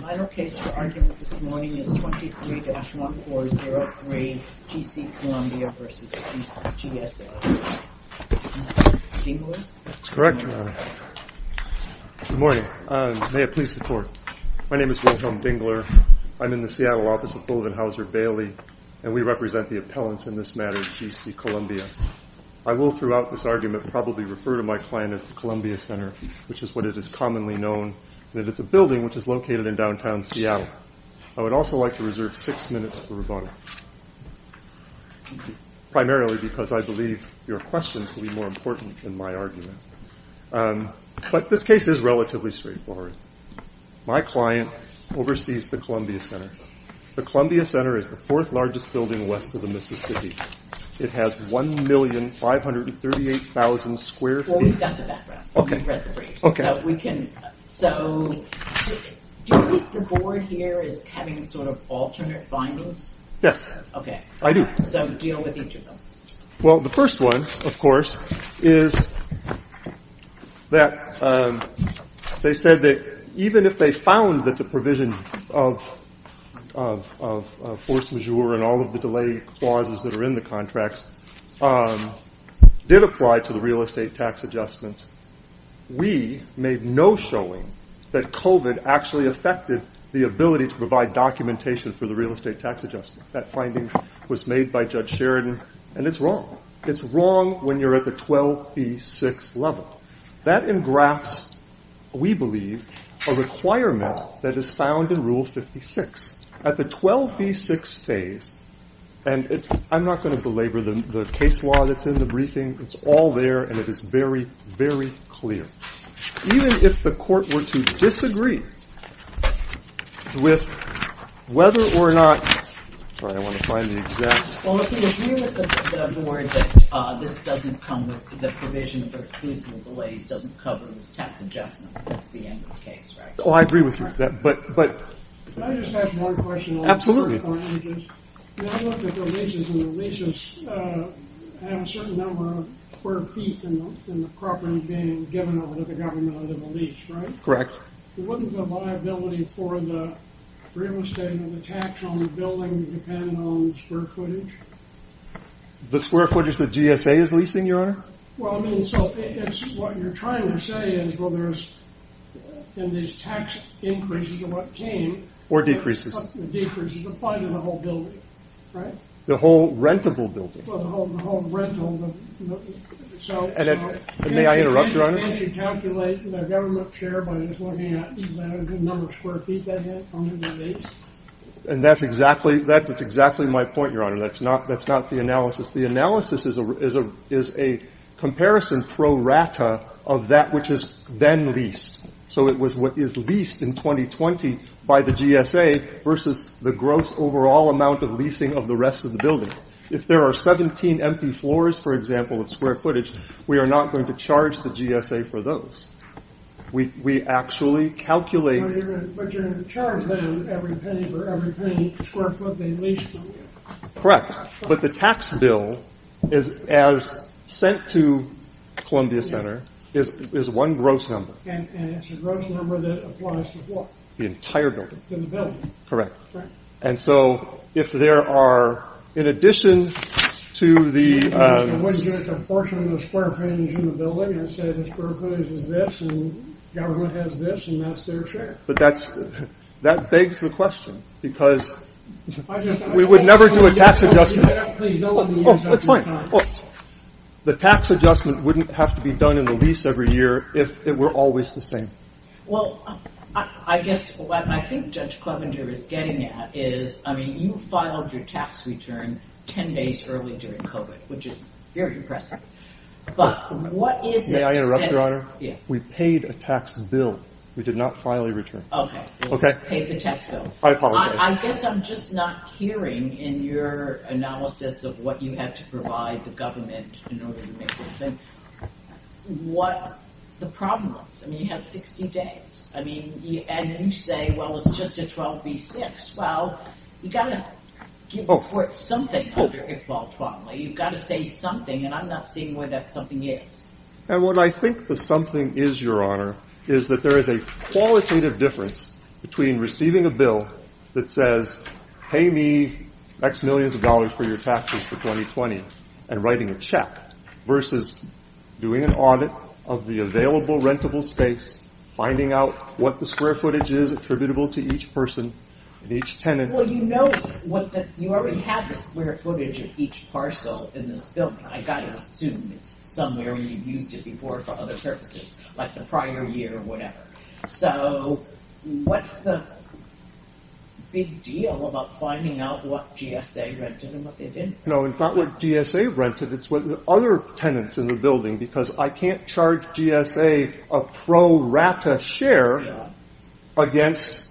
My location for argument this morning is 23-1403 G.C. Columbia v. G.S.L. Mr. Dingler? That's correct, Your Honor. Good morning. May it please the Court. My name is Wilhelm Dingler. I'm in the Seattle office of Bolivin Hauser Bailey, and we represent the appellants in this matter, G.C. Columbia. I will, throughout this argument, probably refer to my client as the Columbia Center, which is what it is commonly known, and it is a building which is located in downtown Seattle. I would also like to reserve six minutes for rebuttal, primarily because I believe your questions will be more important than my argument. But this case is relatively straightforward. My client oversees the Columbia Center. The Columbia Center is the fourth-largest building west of the Mississippi. It has 1,538,000 square feet. Well, we've got the background. We've read the briefs. So do you think the board here is having sort of alternate findings? Yes. Okay. I do. So deal with each of those. Well, the first one, of course, is that they said that even if they found that the provision of force majeure and all of the delay clauses that are in the contracts did apply to the real estate tax adjustments, we made no showing that COVID actually affected the ability to provide documentation for the real estate tax adjustments. That finding was made by Judge Sheridan, and it's wrong. It's wrong when you're at the 12B6 level. That engrafts, we believe, a requirement that is found in Rule 56. At the 12B6 phase, and I'm not going to belabor the case law that's in the briefing. It's all there, and it is very, very clear. Even if the court were to disagree with whether or not – sorry, I want to find the exact – Well, if you agree with the board that this doesn't come with – the provision for exclusion of delays doesn't cover this tax adjustment, that's the end of the case, right? Oh, I agree with you. Can I just ask one question? Absolutely. When I looked at the leases, and the leases have a certain number of square feet in the property being given over to the government under the lease, right? Correct. Wasn't the liability for the real estate and the tax on the building dependent on the square footage? The square footage the GSA is leasing, Your Honor? Well, I mean, so it's – what you're trying to say is, well, there's – and these tax increases are what came – Or decreases. Decreases apply to the whole building, right? The whole rentable building. Well, the whole rental – And may I interrupt, Your Honor? Can't you calculate the government share by just looking at the number of square feet they had under the lease? And that's exactly – that's exactly my point, Your Honor. That's not the analysis. The analysis is a comparison pro rata of that which is then leased. So it was what is leased in 2020 by the GSA versus the gross overall amount of leasing of the rest of the building. If there are 17 empty floors, for example, of square footage, we are not going to charge the GSA for those. We actually calculate – But you're going to charge them every penny for every square foot they leased. Correct. Correct. But the tax bill, as sent to Columbia Center, is one gross number. And it's a gross number that applies to what? The entire building. To the building. Correct. Correct. And so if there are – in addition to the – You wouldn't get a proportion of the square footage in the building and say the square footage is this and government has this and that's their share. That begs the question because we would never do a tax adjustment. Oh, that's fine. The tax adjustment wouldn't have to be done in the lease every year if it were always the same. Well, I guess what I think Judge Clevenger is getting at is, I mean, you filed your tax return 10 days early during COVID, which is very impressive. But what is – May I interrupt, Your Honor? Yes. We paid a tax bill. We did not file a return. Okay. Okay. You paid the tax bill. I apologize. I guess I'm just not hearing in your analysis of what you had to provide the government in order to make this thing, what the problem was. I mean, you had 60 days. I mean, and you say, well, it's just a 12B6. Well, you've got to give the court something under Iqbal Twanli. You've got to say something, and I'm not seeing where that something is. And what I think the something is, Your Honor, is that there is a qualitative difference between receiving a bill that says, pay me X millions of dollars for your taxes for 2020 and writing a check versus doing an audit of the available rentable space, finding out what the square footage is attributable to each person and each tenant. Well, you know, you already have the square footage of each parcel in this building. I've got to assume it's somewhere you've used it before for other purposes, like the prior year or whatever. So what's the big deal about finding out what GSA rented and what they didn't? No, it's not what GSA rented. It's what the other tenants in the building, because I can't charge GSA a pro rata share against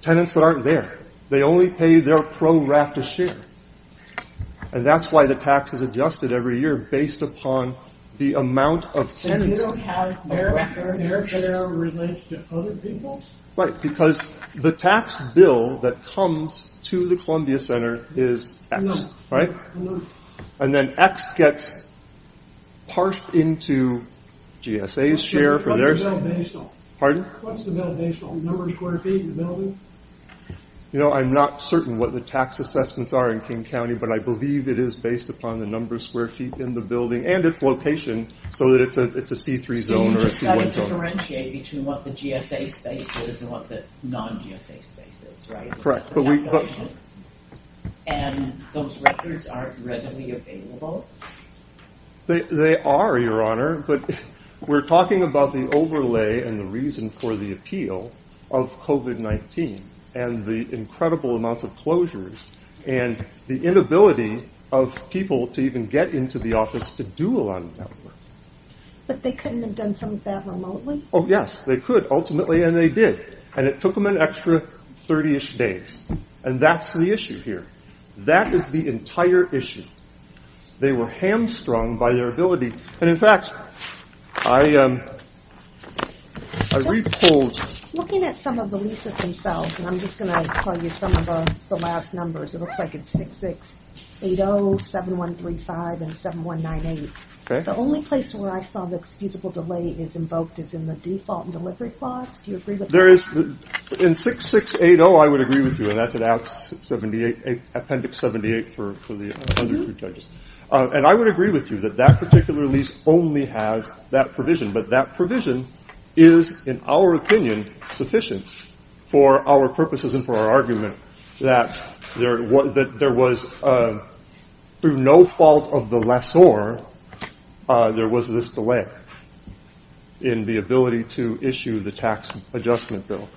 tenants that aren't there. They only pay their pro rata share. And that's why the tax is adjusted every year based upon the amount of tenants. And you don't have their share relates to other people? Right, because the tax bill that comes to the Columbia Center is X, right? And then X gets parsed into GSA's share. Pardon? What's the number of square feet in the building? You know, I'm not certain what the tax assessments are in King County, but I believe it is based upon the number of square feet in the building and its location, so that it's a C3 zone or a C1 zone. You've got to differentiate between what the GSA space is and what the non-GSA space is, right? Correct. And those records aren't readily available? They are, Your Honor, but we're talking about the overlay and the reason for the appeal of COVID-19 and the incredible amounts of closures and the inability of people to even get into the office to do a lot of that work. But they couldn't have done some of that remotely? Oh, yes, they could ultimately, and they did. And it took them an extra 30-ish days, and that's the issue here. That is the entire issue. They were hamstrung by their ability. And, in fact, I re-polled. Looking at some of the leases themselves, and I'm just going to tell you some of the last numbers. It looks like it's 6680, 7135, and 7198. The only place where I saw the excusable delay is invoked is in the default delivery clause. Do you agree with that? In 6680, I would agree with you, and that's in Appendix 78 for the other two judges. And I would agree with you that that particular lease only has that provision, but that provision is, in our opinion, sufficient for our purposes and for our argument that there was, through no fault of the lessor, there was this delay in the ability to issue the tax adjustment bill.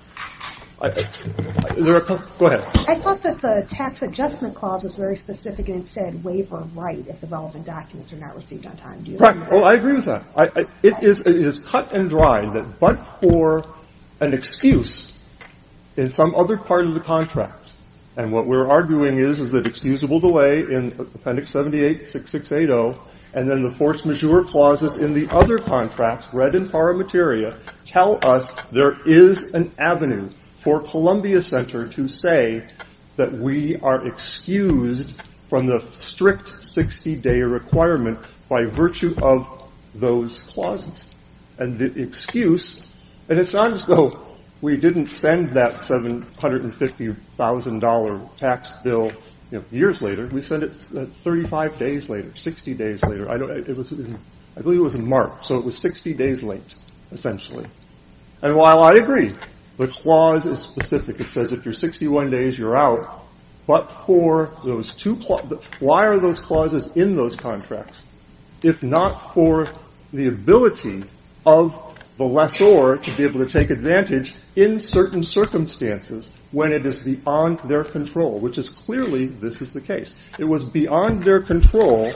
Go ahead. I thought that the tax adjustment clause was very specific and it said, waiver right if the relevant documents are not received on time. Do you agree with that? Well, I agree with that. It is cut and dry that but for an excuse in some other part of the contract. And what we're arguing is is that excusable delay in Appendix 78, 6680, and then the force majeure clauses in the other contracts, read in para materia, tell us there is an avenue for Columbia Center to say that we are excused from the strict 60-day requirement by virtue of those clauses. And the excuse, and it's not as though we didn't spend that $750,000 tax bill years later. We spent it 35 days later, 60 days later. I believe it was in March. So it was 60 days late, essentially. And while I agree, the clause is specific. It says if you're 61 days, you're out. But for those two, why are those clauses in those contracts? If not for the ability of the lessor to be able to take advantage in certain circumstances when it is beyond their control, which is clearly this is the case. It was beyond their control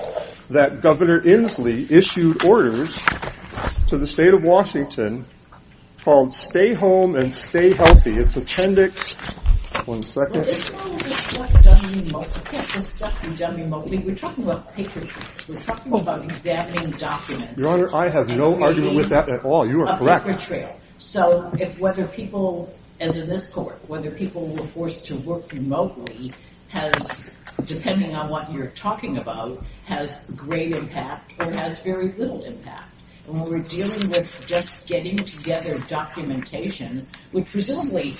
that Governor Inslee issued orders to the state of Washington called Stay Home and Stay Healthy. It's Appendix, one second. This is all done remotely. You can't just stuff them done remotely. We're talking about paper trails. We're talking about examining documents. Your Honor, I have no argument with that at all. You are correct. A paper trail. So if whether people, as in this court, whether people were forced to work remotely has, depending on what you're talking about, has great impact or has very little impact. When we're dealing with just getting together documentation, presumably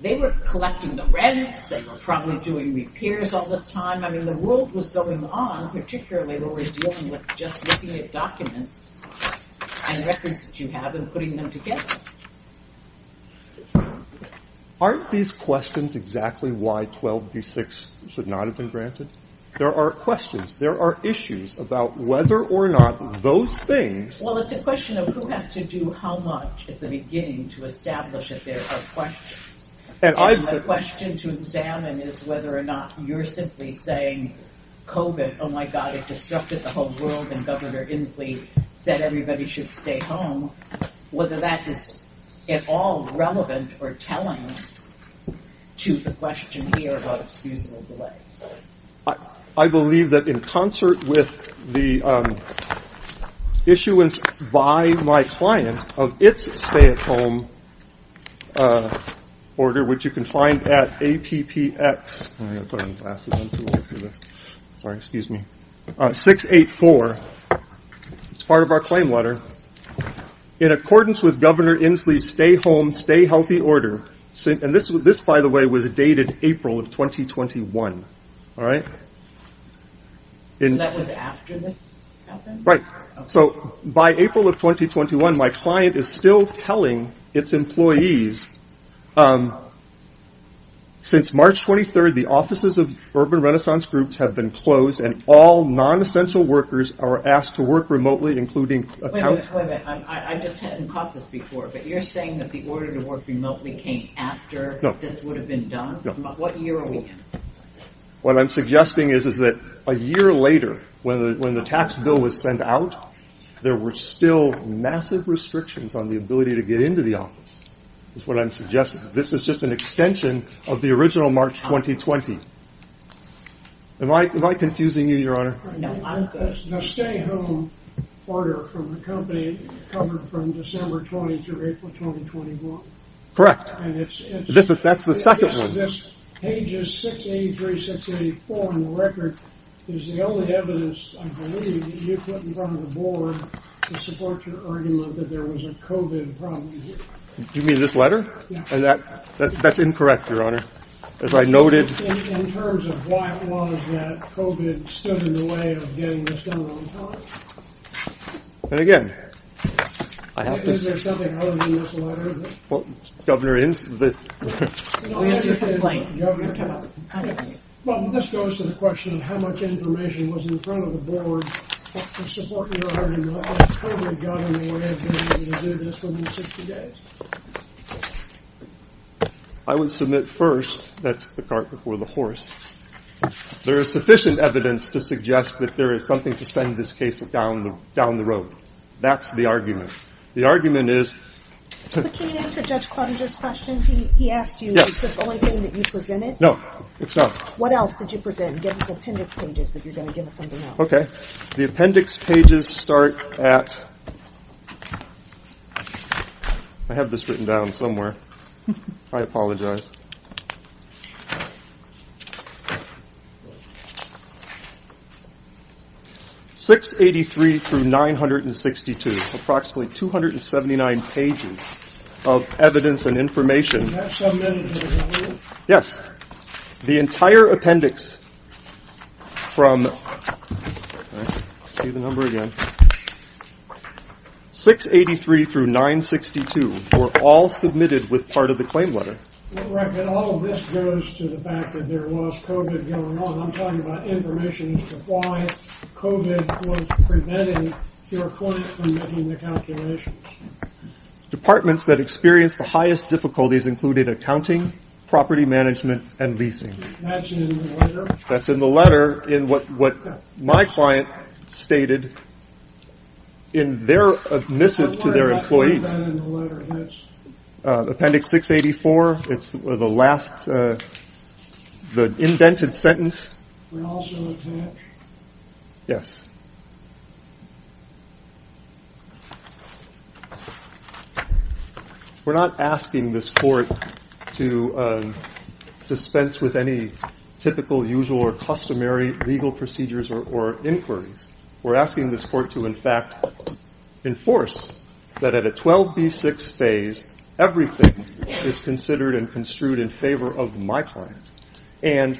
they were collecting the rents. They were probably doing repairs all this time. I mean, the world was going on, particularly when we're dealing with just looking at documents and records that you have and putting them together. Aren't these questions exactly why 12b-6 should not have been granted? There are questions. There are issues about whether or not those things. Well, it's a question of who has to do how much at the beginning to establish that there are questions. And the question to examine is whether or not you're simply saying COVID, oh, my God, it disrupted the whole world, and Governor Inslee said everybody should stay home, whether that is at all relevant or telling to the question here about excusable delays. I believe that in concert with the issuance by my client of its stay-at-home order, which you can find at APPX 684. It's part of our claim letter. In accordance with Governor Inslee's stay-home, stay-healthy order, and this, by the way, was dated April of 2021. All right? So that was after this happened? Right. So by April of 2021, my client is still telling its employees, since March 23rd, the offices of urban renaissance groups have been closed and all non-essential workers are asked to work remotely, including accountants. Wait a minute. I just hadn't caught this before, but you're saying that the order to work remotely came after this would have been done? No. What year are we in? What I'm suggesting is that a year later, when the tax bill was sent out, there were still massive restrictions on the ability to get into the office, is what I'm suggesting. This is just an extension of the original March 2020. Am I confusing you, Your Honor? No, I'm good. The stay-home order from the company covered from December 20 through April 2021. Correct. That's the second one. Pages 683, 684 on the record is the only evidence I believe that you put in front of the board to support your argument that there was a COVID problem here. You mean this letter? Yes. That's incorrect, Your Honor. In terms of why it was that COVID stood in the way of getting this done on time? And again, I have to say. Is there something other than this letter? Well, Governor Inslee. We asked you to complain. Governor, come on. Well, this goes to the question of how much information was in front of the board to support your argument that COVID got in the way of being able to do this within 60 days. I would submit first. That's the cart before the horse. There is sufficient evidence to suggest that there is something to send this case down the road. That's the argument. The argument is. But can you answer Judge Croninger's question? He asked you, is this the only thing that you presented? No, it's not. What else did you present? Give us appendix pages that you're going to give us something else. Okay. The appendix pages start at. I have this written down somewhere. I apologize. 683 through 962. Approximately 279 pages of evidence and information. Yes. The entire appendix from. See the number again. 683 through 962 were all submitted with part of the claim letter. All of this goes to the fact that there was COVID going on. I'm talking about information as to why COVID was preventing your client from making the calculations. Departments that experienced the highest difficulties included accounting, property management, and leasing. That's in the letter. That's in the letter. In what my client stated. In their admissive to their employees. Appendix 684. It's the last. The indented sentence. Yes. We're not asking this court to dispense with any typical usual or customary legal procedures or inquiries. We're asking this court to, in fact, enforce that at a 12 B6 phase. Everything is considered and construed in favor of my client. Any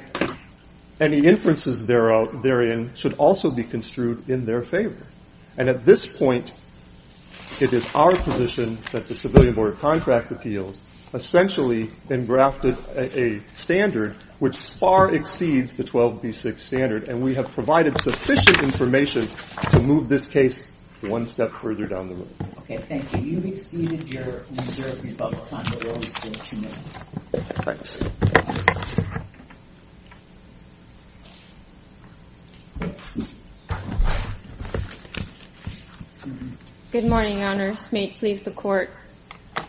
inferences therein should also be construed in their favor. At this point, it is our position that the Civilian Board of Contract Appeals essentially engrafted a standard which far exceeds the 12 B6 standard. We have provided sufficient information to move this case one step further down the road. Okay, thank you. You've exceeded your reserve rebuttal time. Thanks. Good morning, Your Honor. This may please the court.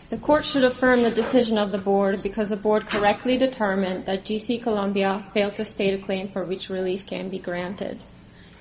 The court should affirm the decision of the board because the board correctly determined that G.C. Columbia failed to state a claim for which relief can be granted.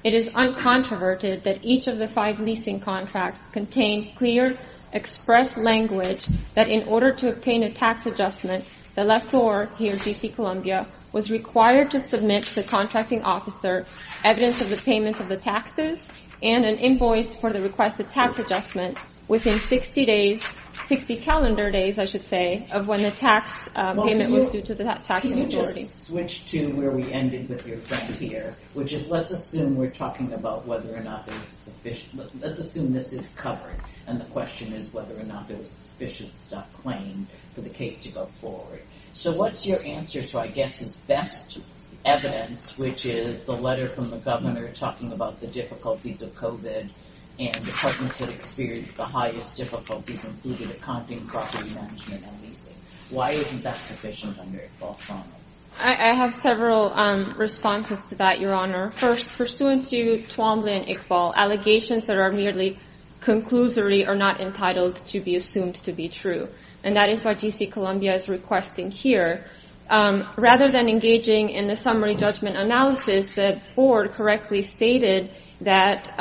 It is uncontroverted that each of the five leasing contracts contain clear, expressed language that in order to obtain a tax adjustment, the lessor here, G.C. Columbia, was required to submit to the contracting officer evidence of the payment of the taxes and an invoice for the requested tax adjustment within 60 days, 60 calendar days, I should say, of when the tax payment was due to the tax majority. Let me just switch to where we ended with your friend here, which is let's assume we're talking about whether or not there's sufficient, let's assume this is covered, and the question is whether or not there was sufficient stuff claimed for the case to go forward. So what's your answer to, I guess, his best evidence, which is the letter from the governor talking about the difficulties of COVID and departments that experienced the highest difficulties, including accounting, property management, and leasing. Why isn't that sufficient under Iqbal's formula? I have several responses to that, Your Honor. First, pursuant to Twombly and Iqbal, allegations that are merely conclusory are not entitled to be assumed to be true. And that is what G.C. Columbia is requesting here. Rather than engaging in the summary judgment analysis, the board correctly stated that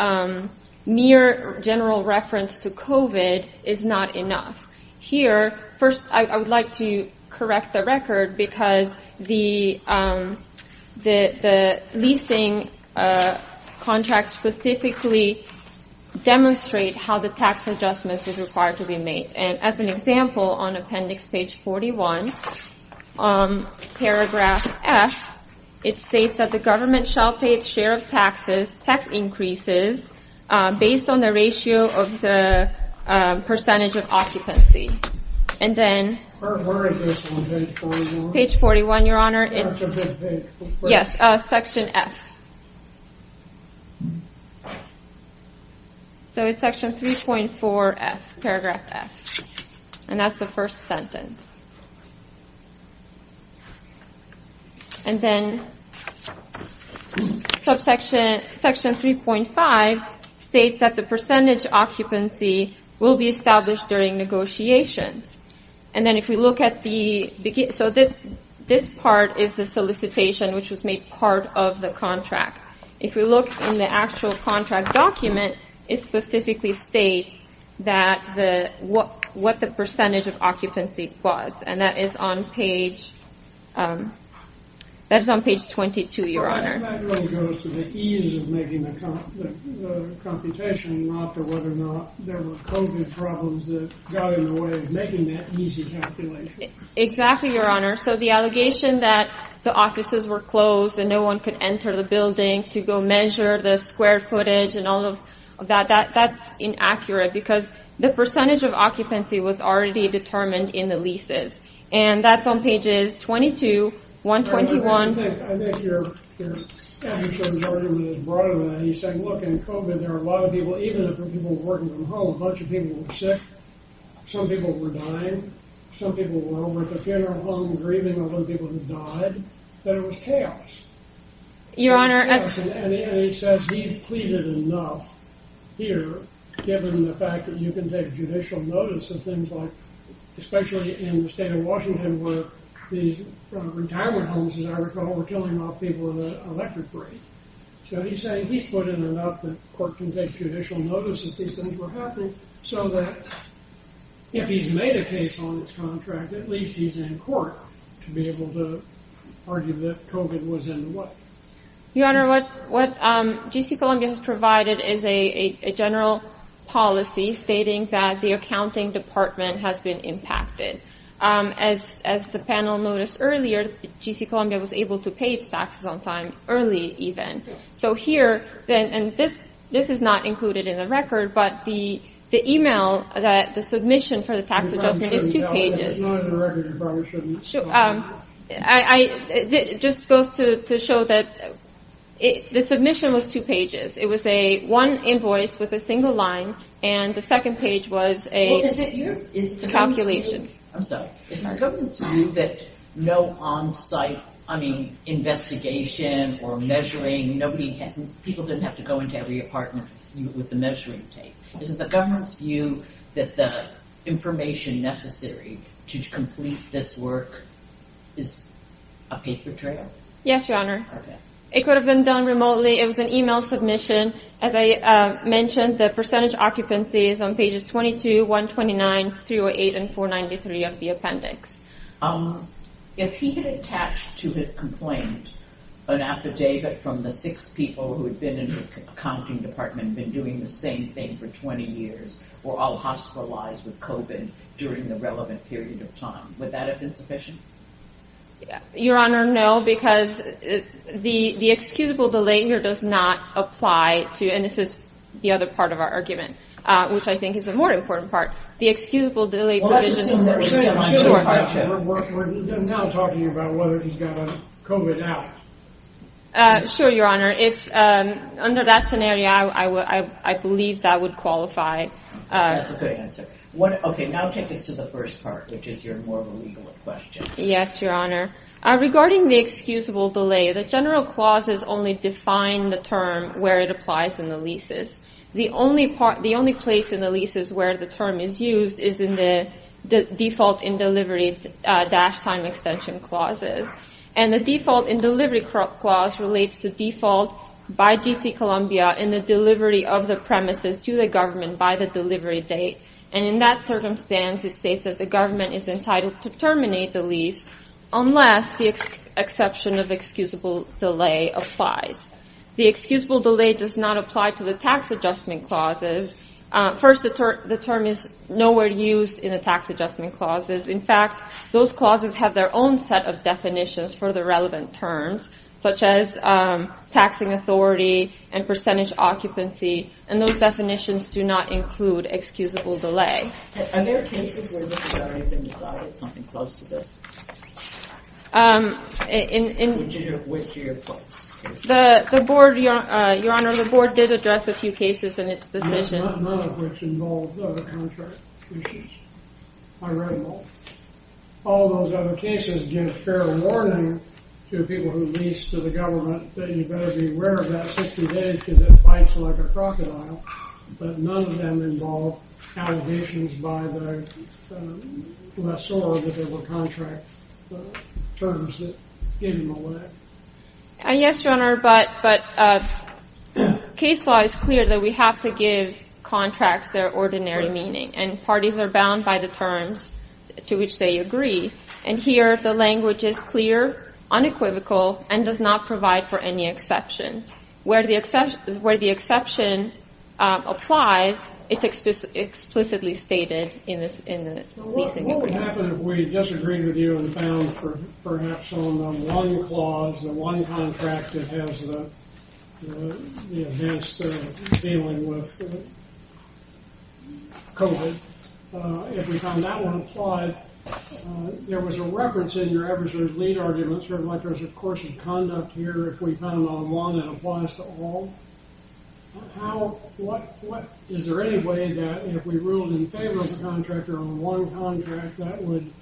mere general reference to COVID is not enough. Here, first, I would like to correct the record because the leasing contracts specifically demonstrate how the tax adjustment is required to be made. And as an example, on appendix page 41, paragraph F, it states that the government shall pay its share of tax increases based on the ratio of the percentage of occupancy. Where is this on page 41? Page 41, Your Honor. That's a bit vague. Yes, section F. So it's section 3.4F, paragraph F. And that's the first sentence. And then section 3.5 states that the percentage occupancy will be established during negotiations. And then if we look at the... So this part is the solicitation, which was made part of the contract. If we look in the actual contract document, it specifically states what the percentage of occupancy was. And that is on page 22, Your Honor. Exactly, Your Honor. So the allegation that the offices were closed and no one could enter the building to go measure the square footage and all of that, that's inaccurate because the percentage of occupancy was already determined in the leases. And that's on pages 22, 121. I think your argument is broader than that. He's saying, look, in COVID, there are a lot of people, even if the people were working from home, a bunch of people were sick. Some people were dying. Some people were at the funeral home grieving all the people who died. That it was chaos. Your Honor. And he says he's pleaded enough here, given the fact that you can take judicial notice of things like, especially in the state of Washington, where these retirement homes, as I recall, were killing off people in the electric break. So he's saying he's put in enough that court can take judicial notice that these things were happening so that if he's made a case on this contract, at least he's in court to be able to argue that COVID was in the way. Your Honor, what G.C. Columbia has provided is a general policy stating that the accounting department has been impacted. As the panel noticed earlier, G.C. Columbia was able to pay its taxes on time, early even. So here, and this is not included in the record, but the email, the submission for the tax adjustment is two pages. It's not in the record. It just goes to show that the submission was two pages. It was one invoice with a single line, and the second page was a calculation. I'm sorry. Is it the government's view that no on-site investigation or measuring, people didn't have to go into every apartment with the measuring tape? Is it the government's view that the information necessary to complete this work is a paper trail? Yes, Your Honor. It could have been done remotely. It was an email submission. As I mentioned, the percentage occupancy is on pages 22, 129, 308, and 493 of the appendix. If he had attached to his complaint an affidavit from the six people who had been in his accounting department, been doing the same thing for 20 years, were all hospitalized with COVID during the relevant period of time, would that have been sufficient? Your Honor, no, because the excusable delay here does not apply to, and this is the other part of our argument, which I think is a more important part, the excusable delay provision. We're now talking about whether he's got a COVID out. Sure, Your Honor. Under that scenario, I believe that would qualify. That's a good answer. Now take us to the first part, which is your more legal question. Yes, Your Honor. Regarding the excusable delay, the general clauses only define the term where it applies in the leases. The only place in the leases where the term is used is in the default in delivery dash time extension clauses. And the default in delivery clause relates to default by DC Columbia in the delivery of the premises to the government by the delivery date. And in that circumstance, it states that the government is entitled to terminate the lease unless the exception of excusable delay applies. The excusable delay does not apply to the tax adjustment clauses. First, the term is nowhere used in the tax adjustment clauses. In fact, those clauses have their own set of definitions for the relevant terms, such as taxing authority and percentage occupancy. And those definitions do not include excusable delay. Are there cases where this has already been decided, something close to this? Which of your cases? Your Honor, the board did address a few cases in its decision. None of which involved other contract issues. I read them all. All those other cases give fair warning to people who lease to the government that you better be aware of that 60 days because it bites like a crocodile. But none of them involve allegations by the lessor that there were contract terms that gave them away. Yes, Your Honor, but case law is clear that we have to give contracts their ordinary meaning. And parties are bound by the terms to which they agree. And here the language is clear, unequivocal, and does not provide for any exceptions. Where the exception applies, it's explicitly stated in the leasing agreement. What would happen if we disagreed with you and found perhaps on one clause, the one contract that has the enhanced dealing with COVID, if we found that one applied? There was a reference in your ever-so-deleted arguments, very much as a course of conduct here. If we found on one, it applies to all. Is there any way that if we ruled in favor of the contractor on one contract, there would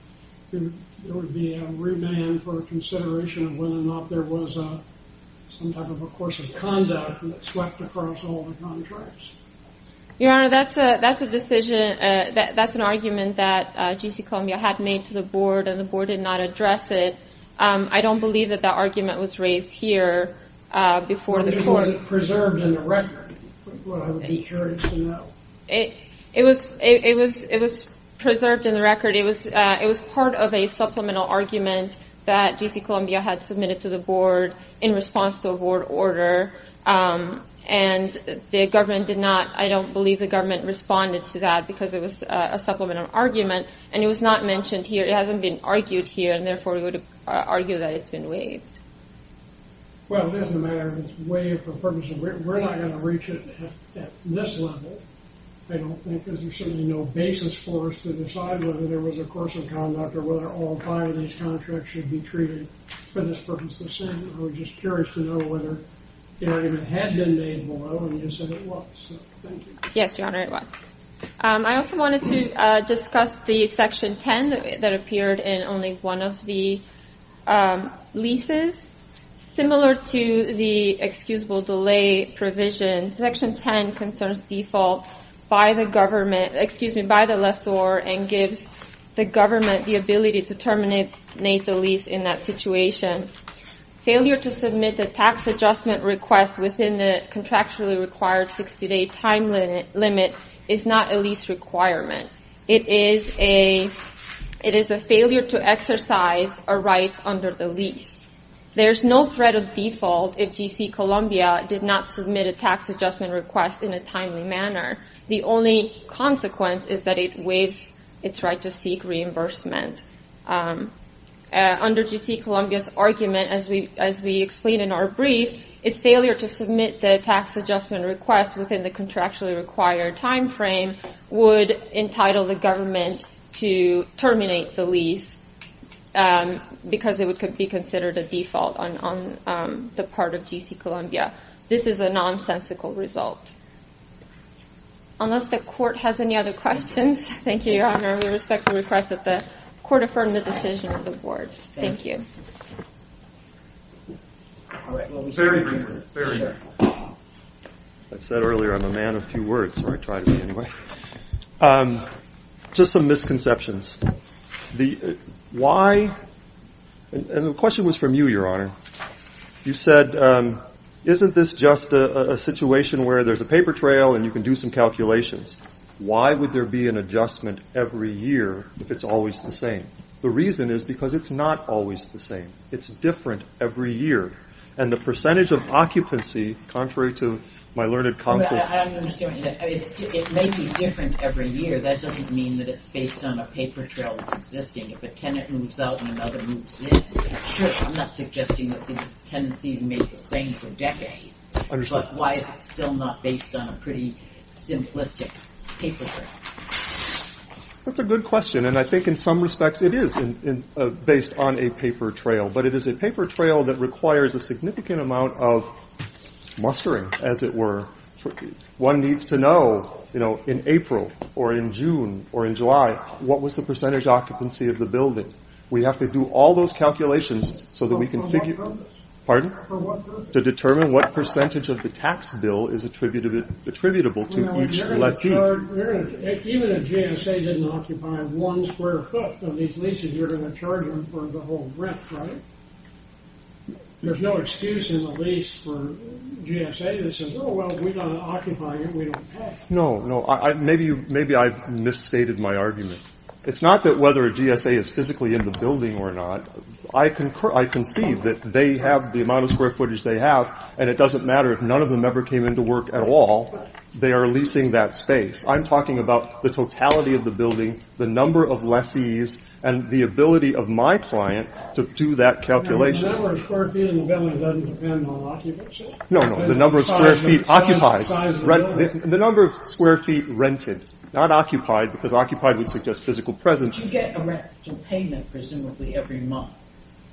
be a remand for consideration of whether or not there was some type of a course of conduct that swept across all the contracts? Your Honor, that's an argument that G.C. Columbia had made to the board, and the board did not address it. I don't believe that that argument was raised here before the court. If it wasn't preserved in the record, I would be encouraged to know. It was preserved in the record. It was part of a supplemental argument that G.C. Columbia had submitted to the board in response to a board order. And the government did not, I don't believe the government responded to that because it was a supplemental argument, and it was not mentioned here. It hasn't been argued here, and therefore we would argue that it's been waived. Well, it doesn't matter if it's waived. We're not going to reach it at this level, I don't think, because there's certainly no basis for us to decide whether there was a course of conduct or whether all five of these contracts should be treated for this purpose. I was just curious to know whether the argument had been made below, and you said it was. Thank you. Yes, Your Honor, it was. I also wanted to discuss the Section 10 that appeared in only one of the leases. Similar to the excusable delay provision, Section 10 concerns default by the lessor and gives the government the ability to terminate the lease in that situation. Failure to submit a tax adjustment request within the contractually required 60-day time limit is not a lease requirement. It is a failure to exercise a right under the lease. There's no threat of default if G.C. Columbia did not submit a tax adjustment request in a timely manner. The only consequence is that it waives its right to seek reimbursement. Under G.C. Columbia's argument, as we explained in our brief, its failure to submit the tax adjustment request within the contractually required time frame would entitle the government to terminate the lease because it would be considered a default on the part of G.C. Columbia. This is a nonsensical result. Unless the Court has any other questions. Thank you, Your Honor. We respect the request that the Court affirm the decision of the Board. Thank you. As I said earlier, I'm a man of two words, or I try to be anyway. Just some misconceptions. The question was from you, Your Honor. You said, isn't this just a situation where there's a paper trail and you can do some calculations? Why would there be an adjustment every year if it's always the same? The reason is because it's not always the same. It's different every year. And the percentage of occupancy, contrary to my learned counsel— I don't understand what you mean. It may be different every year. That doesn't mean that it's based on a paper trail that's existing. If a tenant moves out and another moves in, it should. I'm not suggesting that tenants need to make the same for decades. But why is it still not based on a pretty simplistic paper trail? That's a good question. And I think in some respects it is based on a paper trail. But it is a paper trail that requires a significant amount of mustering, as it were. One needs to know, you know, in April or in June or in July, what was the percentage occupancy of the building? We have to do all those calculations so that we can figure— For what purpose? Pardon? For what purpose? To determine what percentage of the tax bill is attributable to each lessee. Even if GSA didn't occupy one square foot of these leases, you're going to charge them for the whole rent, right? There's no excuse in the lease for GSA that says, oh, well, we're not occupying it, we don't pay. No, no. Maybe I've misstated my argument. It's not that whether a GSA is physically in the building or not. I concede that they have the amount of square footage they have, and it doesn't matter if none of them ever came into work at all. They are leasing that space. I'm talking about the totality of the building, the number of lessees, and the ability of my client to do that calculation. The number of square feet in the building doesn't depend on occupation? No, no. The number of square feet occupied. The size of the building? The number of square feet rented. Not occupied, because occupied would suggest physical presence. But you get a rental payment presumably every month.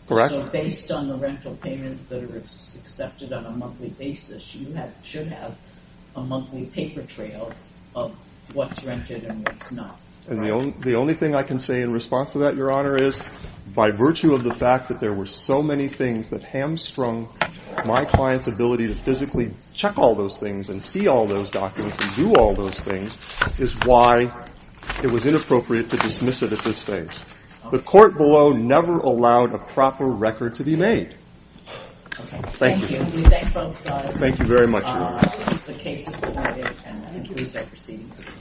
Correct. So based on the rental payments that are accepted on a monthly basis, you should have a monthly paper trail of what's rented and what's not, right? And the only thing I can say in response to that, Your Honor, is by virtue of the fact that there were so many things that hamstrung my client's ability to physically check all those things and see all those documents and do all those things, is why it was inappropriate to dismiss it at this stage. The court below never allowed a proper record to be made. Okay. Thank you. Thank you. We thank both sides. Thank you very much. The case is divided. Thank you. We shall proceed.